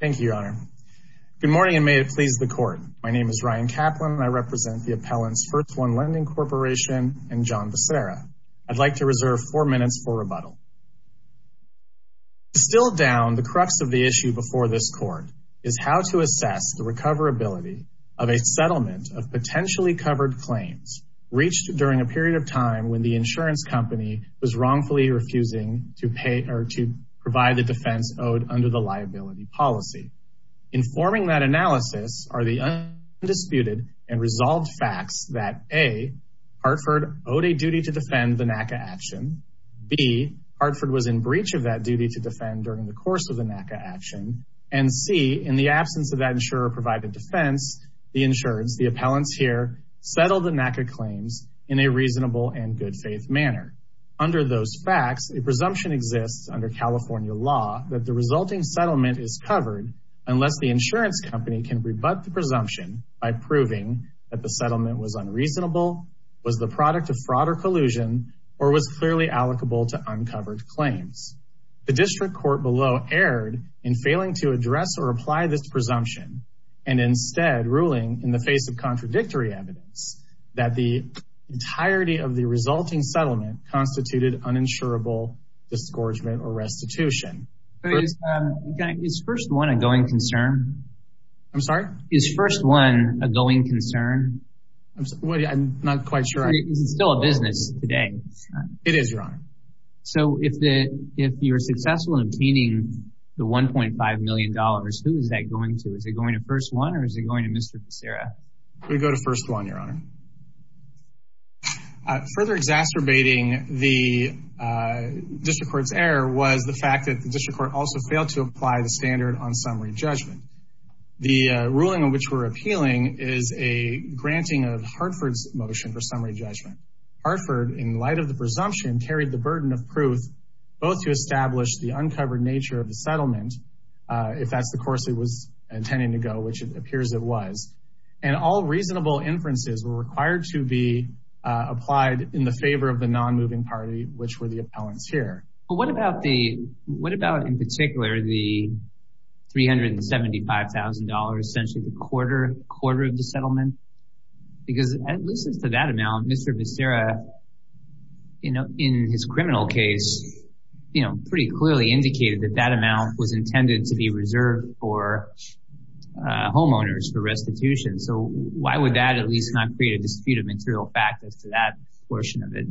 Thank you, Your Honor. Good morning, and may it please the Court. My name is Ryan Kaplan, and I represent the appellants First One Lending Corp. and John Becerra. I'd like to reserve four minutes for rebuttal. Still down the crux of the issue before this Court is how to assess the recoverability of a settlement of potentially covered claims reached during a period of time when the insurance company was wrongfully refusing to provide the defense owed under the liability policy. Informing that analysis are the undisputed and resolved facts that a. Hartford owed a duty to defend the NACA action, b. Hartford was in breach of that duty to defend during the course of the NACA action, and c. In the absence of that insurer-provided defense, the insureds, the appellants here, settled the NACA claims in a reasonable and under those facts, a presumption exists under California law that the resulting settlement is covered unless the insurance company can rebut the presumption by proving that the settlement was unreasonable, was the product of fraud or collusion, or was clearly allocable to uncovered claims. The District Court below erred in failing to address or apply this presumption and instead ruling in the face of contradictory evidence that the entirety of the resulting settlement constituted uninsurable disgorgement or restitution. Is first one a going concern? I'm sorry? Is first one a going concern? I'm not quite sure. Is it still a business today? It is, your honor. So if you're successful in obtaining the 1.5 million dollars, who is that going to? Is it going to first one or is it going to Mr. Sierra? We go to first one, your honor. Further exacerbating the District Court's error was the fact that the District Court also failed to apply the standard on summary judgment. The ruling on which we're appealing is a granting of Hartford's motion for summary judgment. Hartford, in light of the presumption, carried the burden of proof both to establish the uncovered nature of the settlement, if that's the course it was intending to go, which it appears it was, and all reasonable inferences were required to be applied in the favor of the non-moving party, which were the appellants here. But what about the, what about in particular the $375,000, essentially the quarter, quarter of the settlement? Because at least to that amount, Mr. Becerra, you know, in his criminal case, you know, pretty clearly indicated that that amount was intended to be reserved for homeowners for restitution. So why would that at least not create a dispute of material fact as to that portion of it?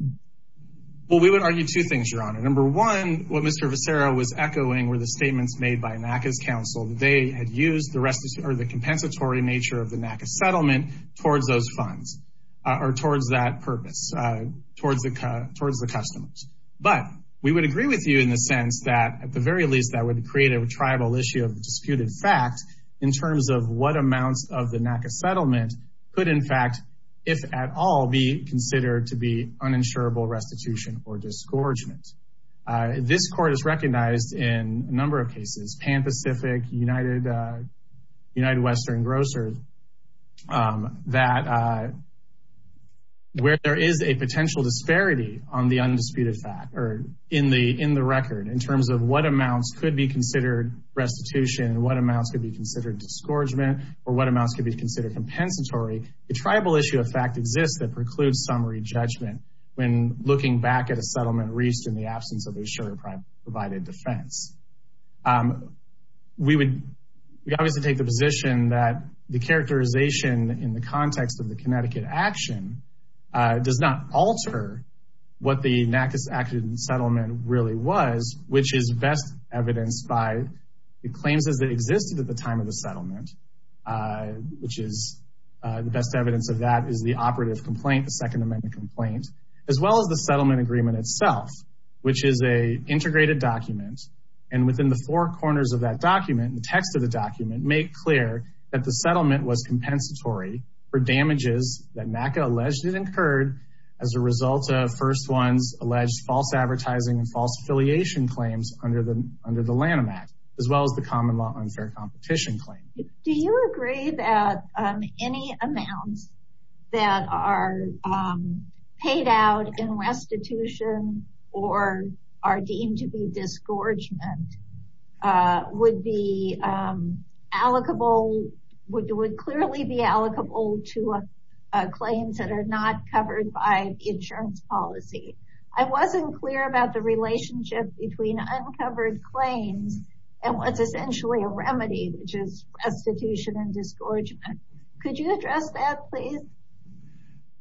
Well, we would argue two things, your honor. Number one, what Mr. Becerra was echoing were the statements made by NACA's counsel that they had used the rest, or the compensatory nature of the NACA settlement towards those funds, or towards that purpose, towards the, towards the customers. But we would agree with you in the sense that at the very least that would create a tribal issue of disputed fact in terms of what amounts of the NACA settlement could in fact, if at all, be considered to be uninsurable restitution or disgorgement. This court has recognized in a number of cases, Pan Pacific, United, United Western Grocers, that where there is a potential disparity on the undisputed fact, or in the, in the record, in terms of what amounts could be considered restitution, what amounts could be considered disgorgement, or what amounts could be considered compensatory. The tribal issue of fact exists that precludes summary judgment when looking back at a settlement reached in the absence of provided defense. We would, we obviously take the position that the characterization in the context of the Connecticut action does not alter what the NACA settlement really was, which is best evidenced by the claims that existed at the time of the settlement, which is the best evidence of that is the operative complaint, the Second Amendment complaint, as well as the settlement agreement itself, which is a integrated document. And within the four corners of that document, the text of the document make clear that the settlement was compensatory for damages that NACA alleged it incurred as a result of First One's alleged false advertising and false affiliation claims under the under the Lanham Act, as well as the restitution or are deemed to be disgorgement would be allocable would would clearly be allocable to claims that are not covered by insurance policy. I wasn't clear about the relationship between uncovered claims and what's essentially a remedy, which is restitution and disgorgement. Could you address that, please?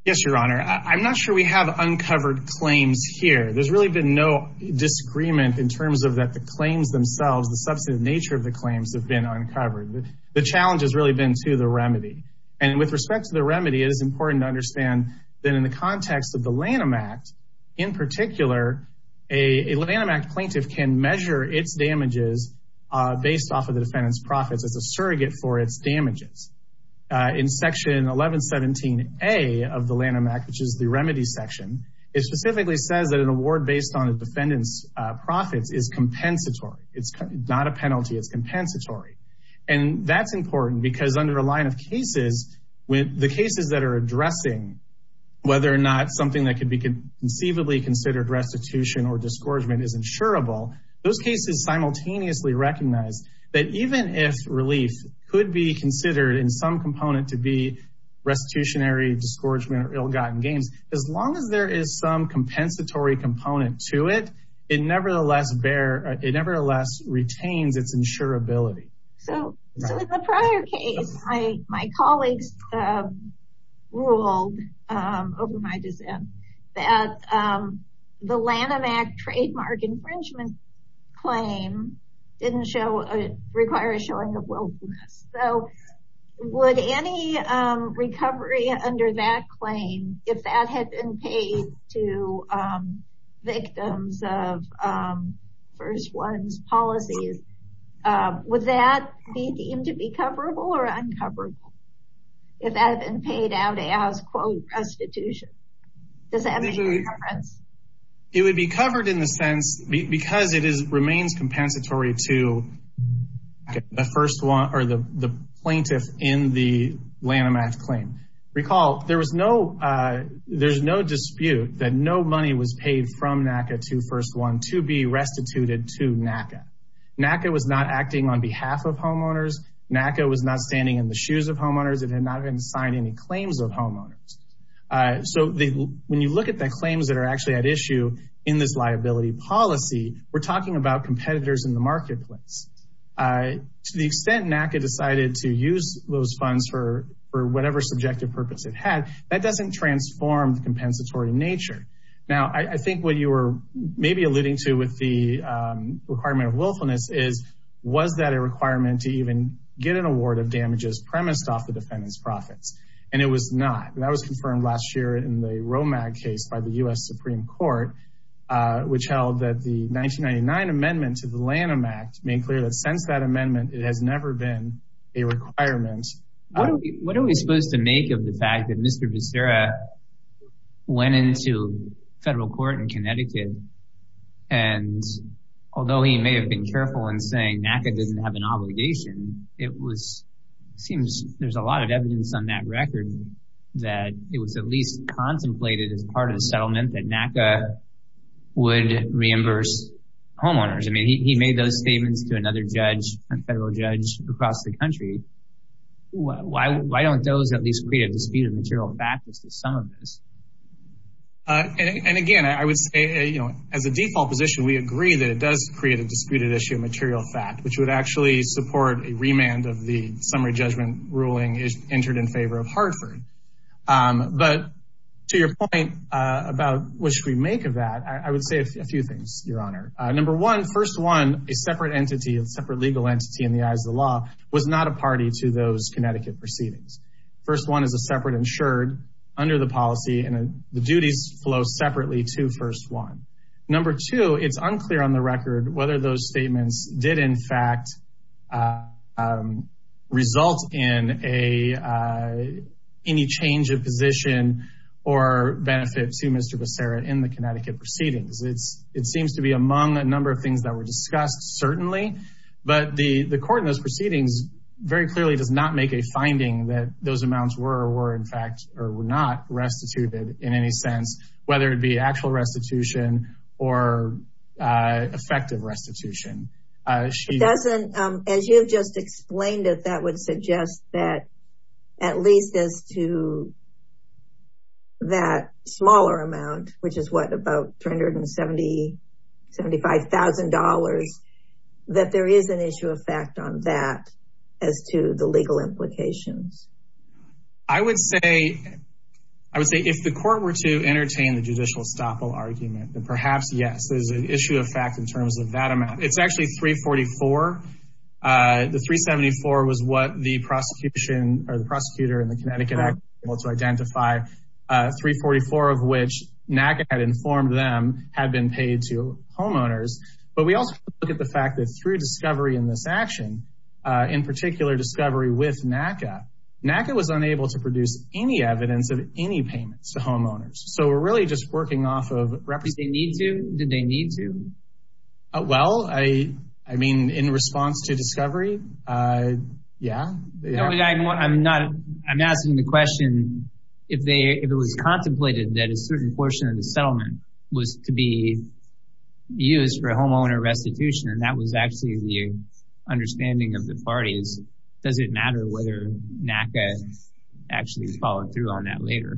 Yes, Your Honor, I'm not sure we have uncovered claims here. There's really been no disagreement in terms of that the claims themselves, the substantive nature of the claims have been uncovered. The challenge has really been to the remedy. And with respect to the remedy, it is important to understand that in the context of the Lanham Act, in particular, a Lanham Act plaintiff can measure its damages based off the defendant's profits as a surrogate for its damages. In Section 1117A of the Lanham Act, which is the remedy section, it specifically says that an award based on the defendant's profits is compensatory. It's not a penalty, it's compensatory. And that's important because under a line of cases with the cases that are addressing whether or not something that could be conceivably considered restitution or disgorgement is insurable, those cases simultaneously recognize that even if relief could be considered in some component to be restitutionary, disgorgement, or ill-gotten gains, as long as there is some compensatory component to it, it nevertheless retains its insurability. So in the prior case, my colleagues ruled, over my dissent, that the Lanham Act trademark infringement claim didn't require a showing of wilfulness. So would any recovery under that claim, if that had been paid to victims of First Ones policies, would that be deemed to be coverable or uncoverable? If that had been paid out as, quote, restitution, does that make any difference? It would be covered in the sense, because it remains compensatory to the plaintiff in the Lanham Act claim. Recall, there was no dispute that no money was paid from NACA to First One to be restituted to NACA. NACA was not acting on behalf of homeowners. NACA was not standing in the shoes of homeowners. It had not even signed any claims of homeowners. So when you look at the claims that are actually at issue in this liability policy, we're talking about competitors in the marketplace. To the extent NACA decided to use those funds for whatever subjective purpose it had, that doesn't transform the compensatory nature. Now, I think what you were maybe alluding to with the requirement of willfulness is, was that a requirement to even get an award of damages premised off the defendant's profits, and it was not. That was confirmed last year in the Romag case by the U.S. Supreme Court, which held that the 1999 amendment to the Lanham Act made clear that since that amendment, it has never been a requirement. What are we supposed to make of the fact that Mr. Becerra went into federal court in Connecticut, and although he may have been careful in saying NACA doesn't have an obligation, it seems there's a lot of evidence on that record that it was at least contemplated as part of the settlement that NACA would reimburse homeowners. I mean, he made those statements to another judge, a federal judge across the country. Why don't those at least create a disputed material practice to some of this? And again, I would say as a default position, we agree that it does create a disputed issue of material fact, which would actually support a remand of the summary judgment ruling entered in favor of Hartford. But to your point about what should we make of that, I would say a few things, Your Honor. Number one, first one, a separate entity, a separate legal entity in the eyes of the law was not a party to those Connecticut proceedings. First one is a separate insured under the policy, and the duties flow separately to first one. Number two, it's unclear on the record whether those statements did in fact result in any change of position or benefit to Mr. Becerra in the Connecticut proceedings. It seems to be among a number of things that were discussed, certainly, but the court in those proceedings very clearly does not make a finding that those amounts were or were not restituted in any sense, whether it be actual restitution or effective restitution. As you have just explained it, that would suggest that at least as to that smaller amount, which is what, about $375,000, that there is an issue of fact on that as to the legal implications. I would say if the court were to entertain the judicial estoppel argument, then perhaps, yes, there's an issue of fact in terms of that amount. It's actually $344,000. The $374,000 was what the prosecution or the prosecutor in the Connecticut Act was able to identify, $344,000 of which NACA had informed them had been paid to homeowners. But we also look at the fact that through discovery in this action, in particular, discovery with NACA, NACA was unable to produce any evidence of any payments to homeowners. So we're really just working off of... Did they need to? Well, I mean, in response to discovery, yeah. I'm asking the question, if it was contemplated that a certain portion of the settlement was to be used for homeowner restitution, and that was actually the understanding of the parties, does it matter whether NACA actually followed through on that later?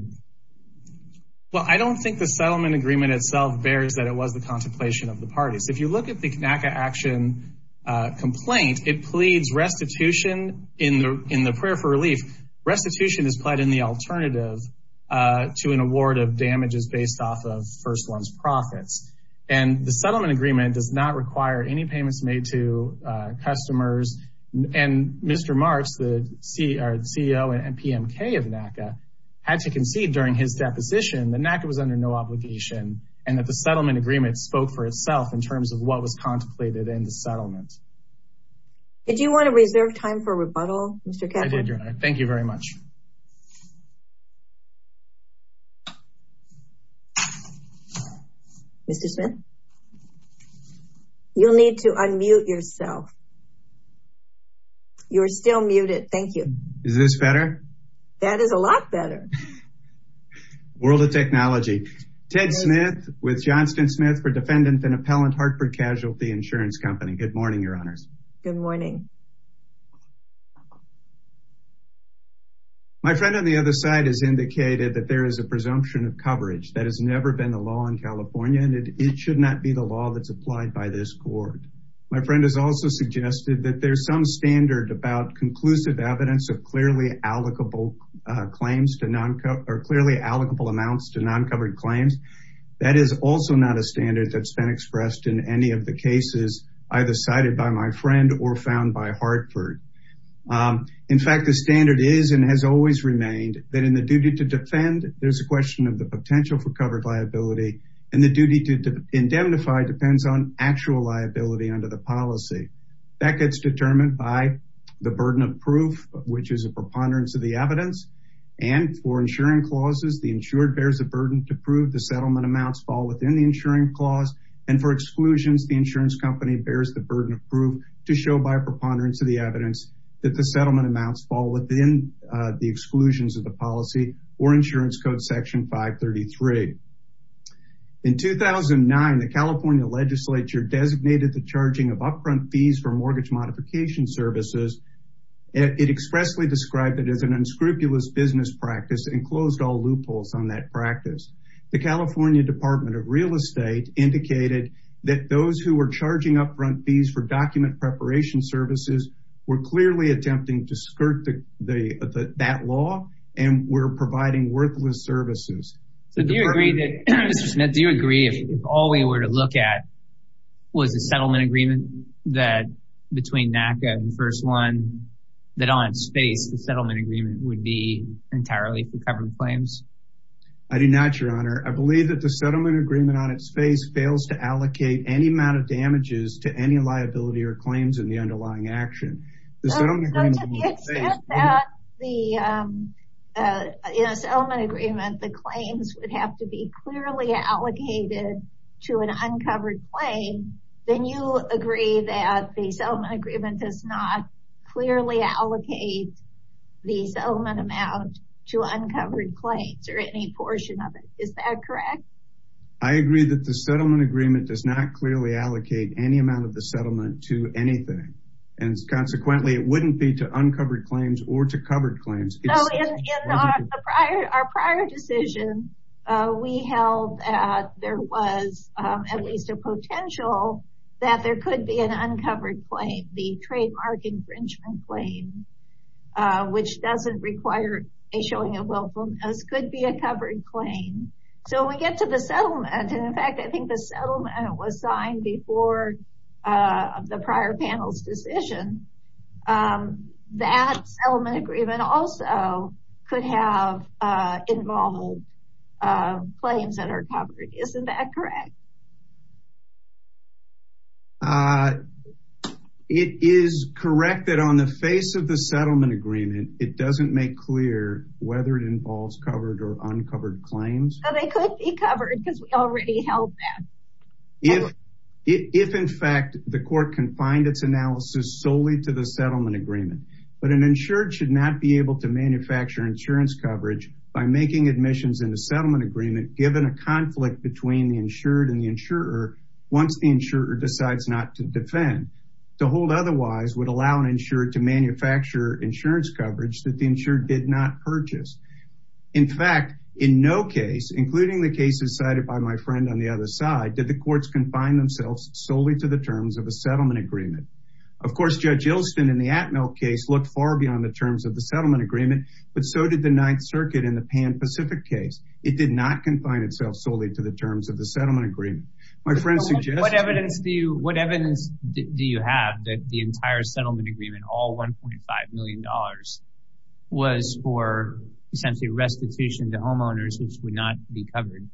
Well, I don't think the settlement agreement itself bears that it was the contemplation of the parties. If you look at the NACA action complaint, it pleads restitution in the prayer for relief. Restitution is pledged in the alternative to an award of damages based off of first one's profits. And the settlement agreement does not require any payments made to customers. And Mr. Marks, the CEO and PMK of NACA, had to concede during his deposition that NACA was under no obligation and that the settlement agreement spoke for itself in terms of what was contemplated in the settlement. Did you want to reserve time for rebuttal, Mr. Smith? Thank you very much. Mr. Smith, you'll need to unmute yourself. You're still muted. Thank you. Is this better? That is a lot better. World of technology. Ted Smith with Johnston Smith for defendant and appellant Hartford Casualty Insurance Company. Good morning, your honors. Good morning. My friend on the other side has indicated that there is a presumption of coverage that has never been the law in California, and it should not be the law that's applied by this court. My friend has also suggested that there's some standard about conclusive evidence of clearly allocable claims to non-covered or clearly allocable amounts to non-covered claims. That is also not a standard that's been expressed in any of the cases, either cited by my friend or found by Hartford. In fact, the standard is and has always remained that in the duty to defend, there's a question of the potential for covered liability, and the duty to indemnify depends on actual liability under the policy. That gets determined by the burden of proof, which is a preponderance of the evidence. And for insuring clauses, the insured bears a burden to prove the settlement amounts fall within the insuring clause. And for exclusions, the insurance company bears the burden of proof to show by preponderance of the evidence that the settlement amounts fall within the exclusions of the policy or insurance code section 533. In 2009, the California legislature designated the charging of upfront fees for mortgage modification services. It expressly described it as an unscrupulous business practice and closed all loopholes on that practice. The California Department of Real Estate indicated that those who were charging upfront fees for document preparation services were clearly attempting to skirt that law and were providing worthless services. So do you agree that, Mr. Schmidt, do you agree if all we were to look at was a settlement agreement that between NACA and First One, that on its face, the settlement agreement would be entirely for covered claims? I do not, Your Honor. I believe that the settlement agreement on its face fails to allocate any amount of damages to any liability or claims in the underlying action. In a settlement agreement, the claims would have to be clearly allocated to an uncovered claim. Then you agree that the settlement agreement does not clearly allocate the settlement amount to uncovered claims or any portion of it. Is that correct? I agree that the settlement agreement does not clearly allocate any amount of the settlement to anything. And consequently, it wouldn't be to uncovered claims or to covered claims. Our prior decision, we held that there was at least a potential that there could be an uncovered claim. So we get to the settlement. In fact, I think the settlement was signed before the prior panel's decision. That settlement agreement also could have involved claims that are covered. Isn't that correct? It is correct that on the face of the settlement agreement, it doesn't make clear whether it involves covered or uncovered claims. So they could be covered because we already held that. If in fact, the court can find its analysis solely to the settlement agreement, but an insured should not be able to manufacture insurance coverage by making admissions in a settlement agreement given a conflict between the insured and the insurer. Once the insurer decides not to defend, to hold otherwise would allow an insured to manufacture insurance coverage that the insured did not purchase. In fact, in no case, including the cases cited by my friend on the other side, did the courts confine themselves solely to the terms of a settlement agreement. Of course, Judge Ilston in the Atmel case looked far beyond the terms of the settlement agreement, but so did the Ninth Circuit in the Pan Pacific case. It did not confine itself solely to the terms of the settlement agreement. What evidence do you have that the entire settlement agreement, all $1.5 million, was for essentially restitution to homeowners, which would not be covered?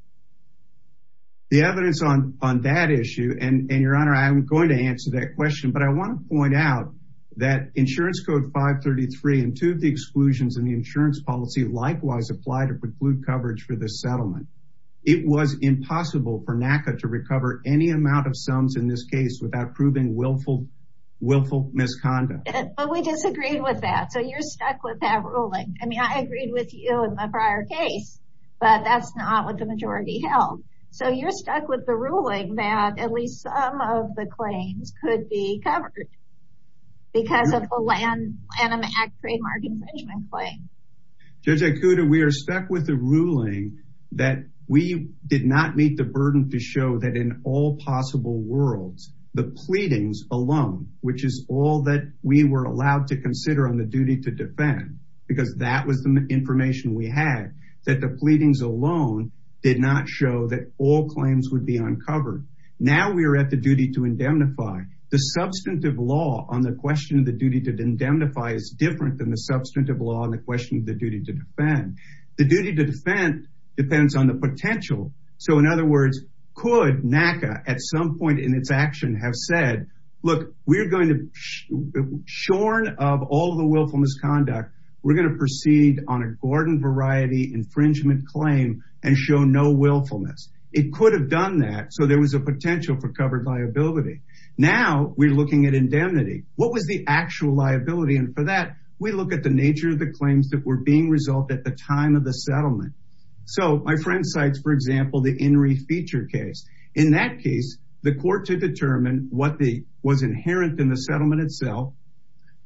The evidence on that issue, and your honor, I'm going to answer that question, but I want to point out that insurance code 533 and two of the exclusions in the insurance policy likewise apply to preclude coverage for this settlement. It was impossible for NACA to recover any amount of sums in this case without proving willful misconduct. But we disagreed with that. So you're stuck with that ruling. I mean, I agreed with you in my prior case, but that's not what the majority held. So you're stuck with the ruling that at least some of the claims could be covered because of a land and an act trademark infringement claim. Judge Ikuda, we are stuck with the ruling that we did not meet the burden to show that in all possible worlds, the pleadings alone, which is all that we were allowed to consider on the duty to defend, because that was the information we had, that the pleadings alone did not show that all on the question of the duty to indemnify is different than the substantive law and the question of the duty to defend. The duty to defend depends on the potential. So in other words, could NACA at some point in its action have said, look, we're going to shorn of all the willfulness conduct. We're going to proceed on a Gordon variety infringement claim and show no willfulness. It could have done that. So there was a potential for covered liability. Now we're at indemnity. What was the actual liability? And for that, we look at the nature of the claims that were being resolved at the time of the settlement. So my friend cites, for example, the Inreefe feature case. In that case, the court to determine what the was inherent in the settlement itself,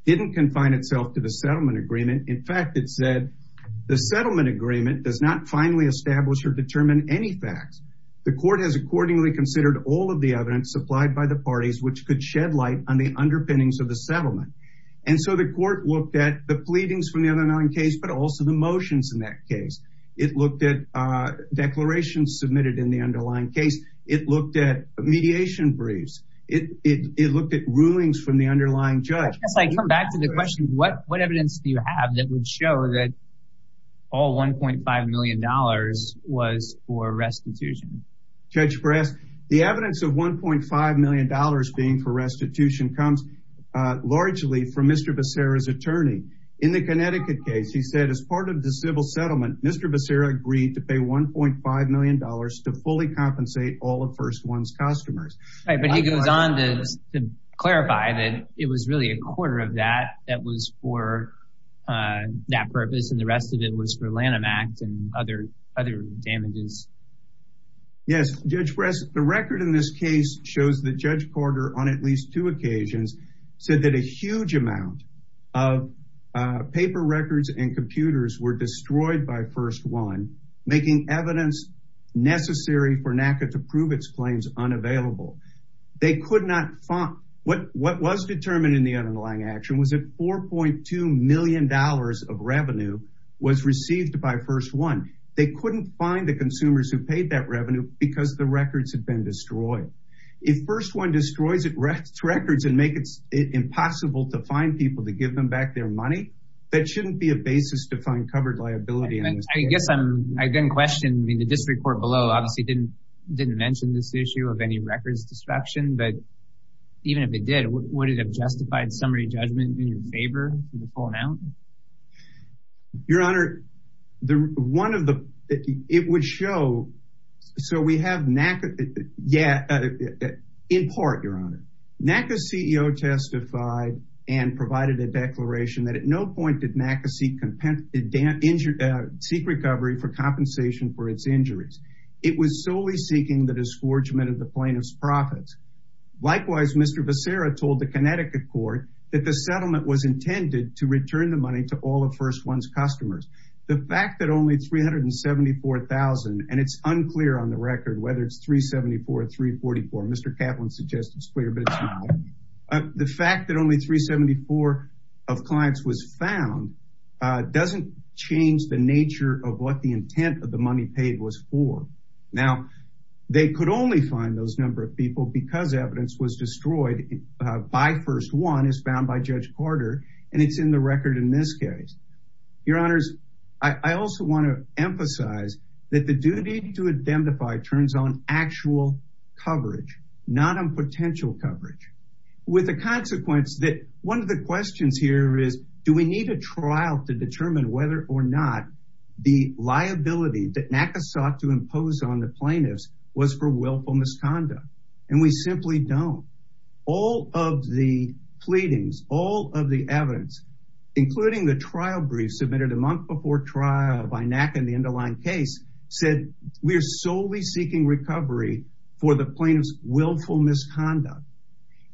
didn't confine itself to the settlement agreement. In fact, it said the settlement agreement does not finally establish or determine any facts. The court has accordingly considered all of the evidence supplied by the parties which could shed light on the underpinnings of the settlement. And so the court looked at the pleadings from the underlying case, but also the motions in that case. It looked at declarations submitted in the underlying case. It looked at mediation briefs. It looked at rulings from the underlying judge. I come back to the question, what evidence do you have that would show that all $1.5 million was for restitution? Judge Brass, the evidence of $1.5 million being for restitution comes largely from Mr. Becerra's attorney. In the Connecticut case, he said as part of the civil settlement, Mr. Becerra agreed to pay $1.5 million to fully compensate all of First One's customers. But he goes on to clarify that it was really a quarter of that that was for that purpose, and the rest of it was for Lanham Act and other damages. Yes, Judge Brass, the record in this case shows that Judge Carter, on at least two occasions, said that a huge amount of paper records and computers were destroyed by First One, making evidence necessary for NACA to prove its claims unavailable. What was determined in the They couldn't find the consumers who paid that revenue because the records had been destroyed. If First One destroys its records and makes it impossible to find people to give them back their money, that shouldn't be a basis to find covered liability. I guess I'm again questioning, I mean, the district court below obviously didn't mention this issue of any records destruction, but even if it did, would it have justified summary judgment in your favor? Your Honor, it would show, so we have NACA, yeah, in part, your Honor, NACA CEO testified and provided a declaration that at no point did NACA seek recovery for compensation for its injuries. It was solely seeking the disgorgement of the plaintiff's profits. Likewise, Mr. Becerra told the Connecticut court that the settlement was intended to return the money to all of First One's customers. The fact that only 374,000, and it's unclear on the record whether it's 374 or 344, Mr. Catlin suggested it's clear, but it's not. The fact that only 374 of clients was found doesn't change the nature of what the intent of the money paid was for. Now, they could only find those number of people because evidence was destroyed by First One as found by Judge Carter, and it's in the record in this case. Your Honors, I also want to emphasize that the duty to identify turns on actual coverage, not on potential coverage. With the consequence that one of the questions here is, do we need a trial to determine whether or not the liability that NACA sought to and we simply don't. All of the pleadings, all of the evidence, including the trial brief submitted a month before trial by NACA in the underlying case said we're solely seeking recovery for the plaintiff's willful misconduct,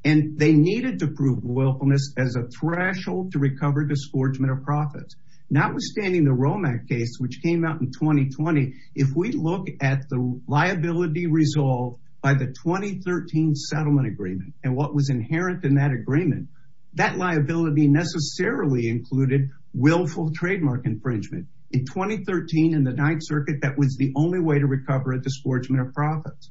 and they needed to prove willfulness as a threshold to recover disgorgement of profits. Notwithstanding the Romack case, which came out in 2020, if we look at the liability resolved by the 2013 settlement agreement and what was inherent in that agreement, that liability necessarily included willful trademark infringement. In 2013 in the Ninth Circuit, that was the only way to recover a disgorgement of profits.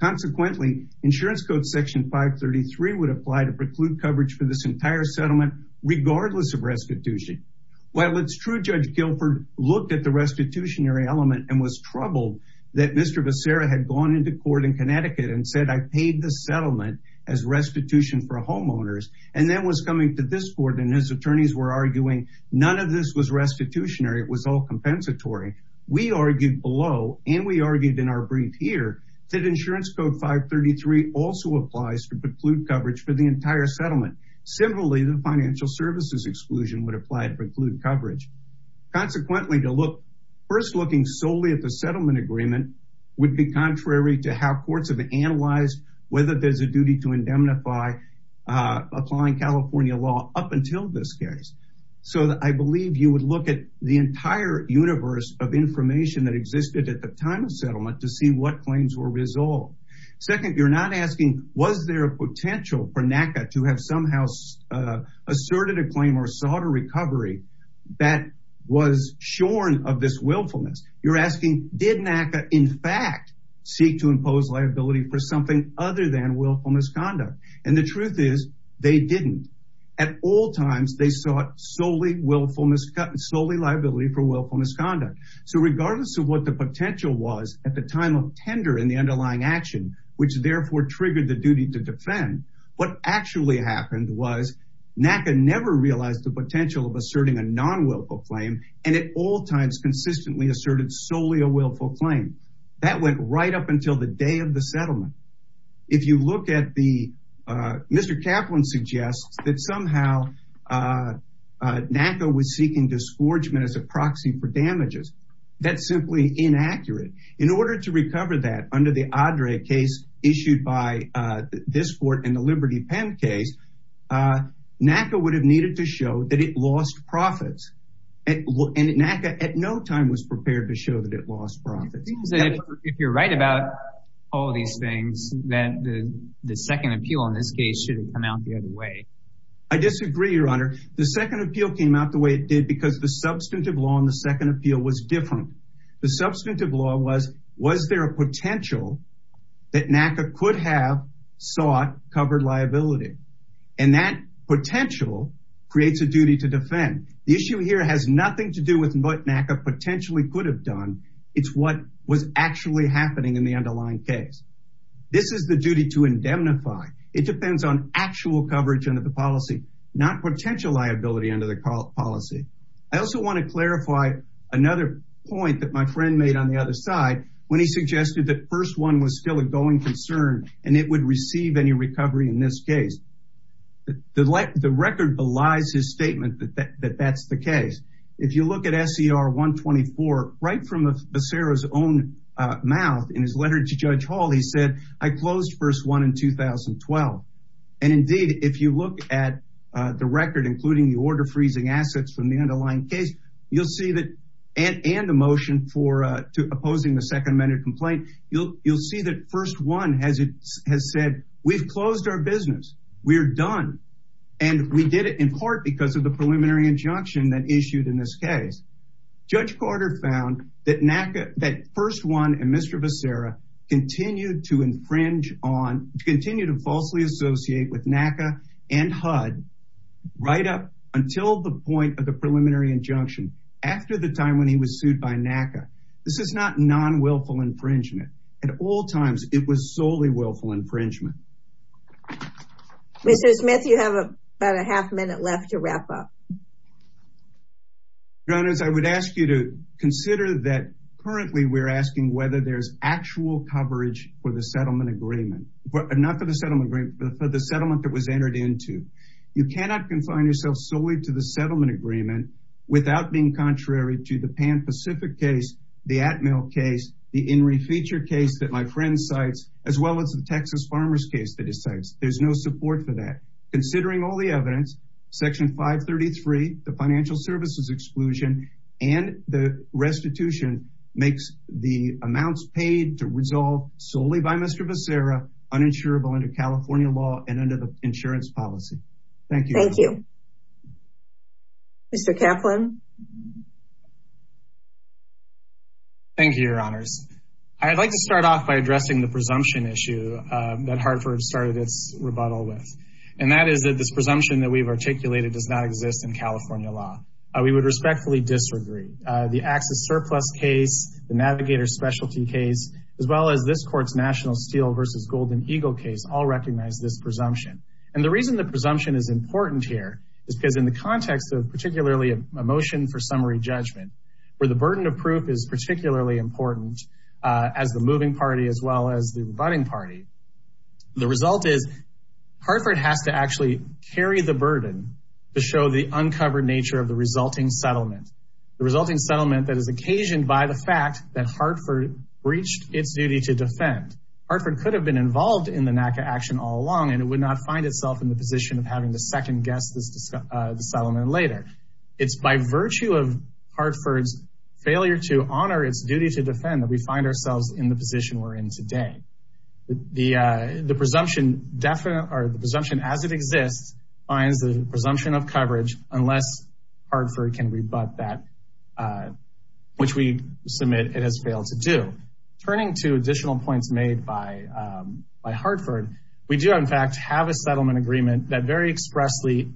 Consequently, Insurance Code Section 533 would apply to preclude coverage for this entire settlement regardless of restitution. While it's true Judge Guilford looked at the restitutionary element and was troubled that Mr. Becerra had gone into court in Connecticut and said, I paid the settlement as restitution for homeowners and then was coming to this court and his attorneys were arguing none of this was restitutionary. It was all compensatory. We argued below and we argued in our brief here that Insurance Code 533 also applies to preclude coverage for the entire settlement. Consequently, first looking solely at the settlement agreement would be contrary to how courts have analyzed whether there's a duty to indemnify applying California law up until this case. So I believe you would look at the entire universe of information that existed at the time of settlement to see what claims were resolved. Second, you're not asking was there a potential for NACA to have somehow asserted a claim or sought a recovery that was shorn of this willfulness. You're asking did NACA in fact seek to impose liability for something other than willfulness conduct and the truth is they didn't. At all times they sought solely willfulness cut solely liability for willfulness conduct. So regardless of what the potential was at the time tender in the underlying action which therefore triggered the duty to defend what actually happened was NACA never realized the potential of asserting a non-willful claim and at all times consistently asserted solely a willful claim. That went right up until the day of the settlement. If you look at the Mr. Kaplan suggests that somehow NACA was seeking disgorgement as a proxy for damages that's simply inaccurate. In order to recover that under the Audrey case issued by this court and the Liberty Pen case NACA would have needed to show that it lost profits and NACA at no time was prepared to show that it lost profits. If you're right about all these things then the second appeal in this case should have come out the other way. I disagree your honor. The second appeal came out the way it did because the substantive law on the second appeal was different. The substantive law was was there a potential that NACA could have sought covered liability and that potential creates a duty to defend. The issue here has nothing to do with what NACA potentially could have done. It's what was actually happening in the underlying case. This is the duty to indemnify. It depends on actual coverage under the policy not potential liability under the policy. I also want to clarify another point that my friend made on the other side when he suggested that first one was still a going concern and it would receive any recovery in this case. The record belies his statement that that's the case. If you look at SER 124 right from the Basara's own mouth in his letter to Judge Hall he said I closed first one in 2012 and indeed if you look at the record including the order freezing assets from the underlying case you'll see that and and the motion for uh to opposing the second amended complaint you'll you'll see that first one has it has said we've closed our business we're done and we did it in the preliminary injunction that issued in this case. Judge Carter found that NACA that first one and Mr. Basara continued to infringe on continue to falsely associate with NACA and HUD right up until the point of the preliminary injunction after the time when he was sued by NACA. This is not non-willful infringement at all times it was solely willful infringement. Mr. Smith you have about a half minute left to wrap up. Your Honors I would ask you to consider that currently we're asking whether there's actual coverage for the settlement agreement but not for the settlement but the settlement that was entered into. You cannot confine yourself solely to the settlement agreement without being contrary to the Pan-Pacific case, the Atmel case, the Inree Feature case that my friend cites as well as the farmers case that he cites. There's no support for that considering all the evidence section 533 the financial services exclusion and the restitution makes the amounts paid to resolve solely by Mr. Basara uninsurable under California law and under the insurance policy. Thank you. Thank you. Mr. Kaplan. Thank you, Your Honors. I'd like to start off by addressing the presumption issue that Hartford started its rebuttal with and that is that this presumption that we've articulated does not exist in California law. We would respectfully disagree. The access surplus case, the navigator specialty case, as well as this court's national steel versus golden eagle case all recognize this presumption and the reason the presumption is important here is because in the context of a motion for summary judgment where the burden of proof is particularly important as the moving party as well as the rebutting party, the result is Hartford has to actually carry the burden to show the uncovered nature of the resulting settlement. The resulting settlement that is occasioned by the fact that Hartford breached its duty to defend. Hartford could have been involved in the NACA action all along and it would not find itself in the position of having to second guess this settlement later. It's by virtue of Hartford's failure to honor its duty to defend that we find ourselves in the position we're in today. The presumption as it exists finds the presumption of coverage unless Hartford can rebut that which we submit it has failed to do. Turning to additional points made by Hartford, we do in fact have a settlement agreement that very expressly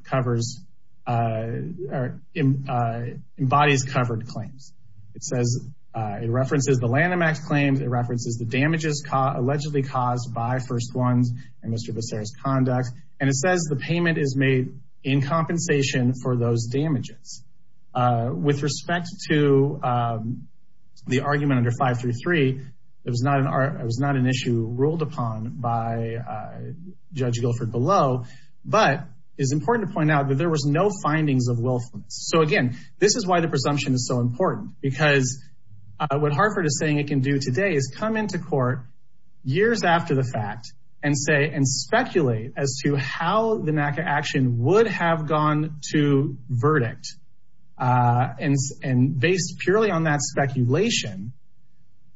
embodies covered claims. It says it references the Lanham Act claims, it references the damages allegedly caused by first ones and Mr. Becerra's conduct and it says the payment is made in compensation for those damages. With respect to the argument under 533, it was not an issue ruled upon by Judge Guilford below but it's important to point out that there was no findings of willfulness. So again, this is why the presumption is so important because what Hartford is saying it can do today is come into court years after the fact and say and speculate as to how the NACA action would have gone to court and based purely on that speculation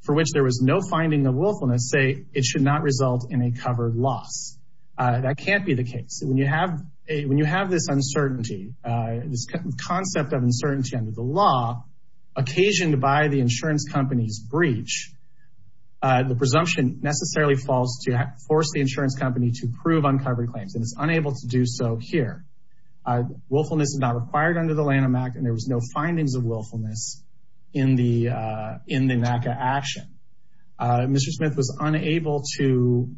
for which there was no finding of willfulness say it should not result in a covered loss. That can't be the case. When you have this uncertainty, this concept of uncertainty under the law occasioned by the insurance company's breach, the presumption necessarily falls to force the insurance company to prove uncovered claims and unable to do so here. Willfulness is not required under the Lanham Act and there was no findings of willfulness in the NACA action. Mr. Smith was unable to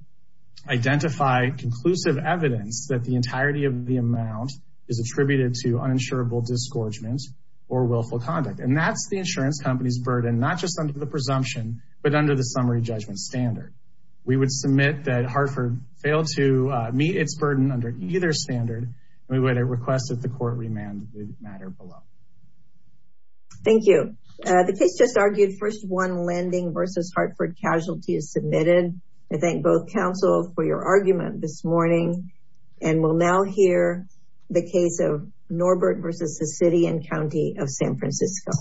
identify conclusive evidence that the entirety of the amount is attributed to uninsurable disgorgement or willful conduct and that's the insurance company's burden not just under the presumption but under the summary judgment standard. We would submit that Hartford failed to meet its burden under either standard and we would request that the court remand the matter below. Thank you. The case just argued first one lending versus Hartford casualty is submitted. I thank both counsel for your argument this morning and we'll now hear the case of Norbert versus the city and county of San Francisco.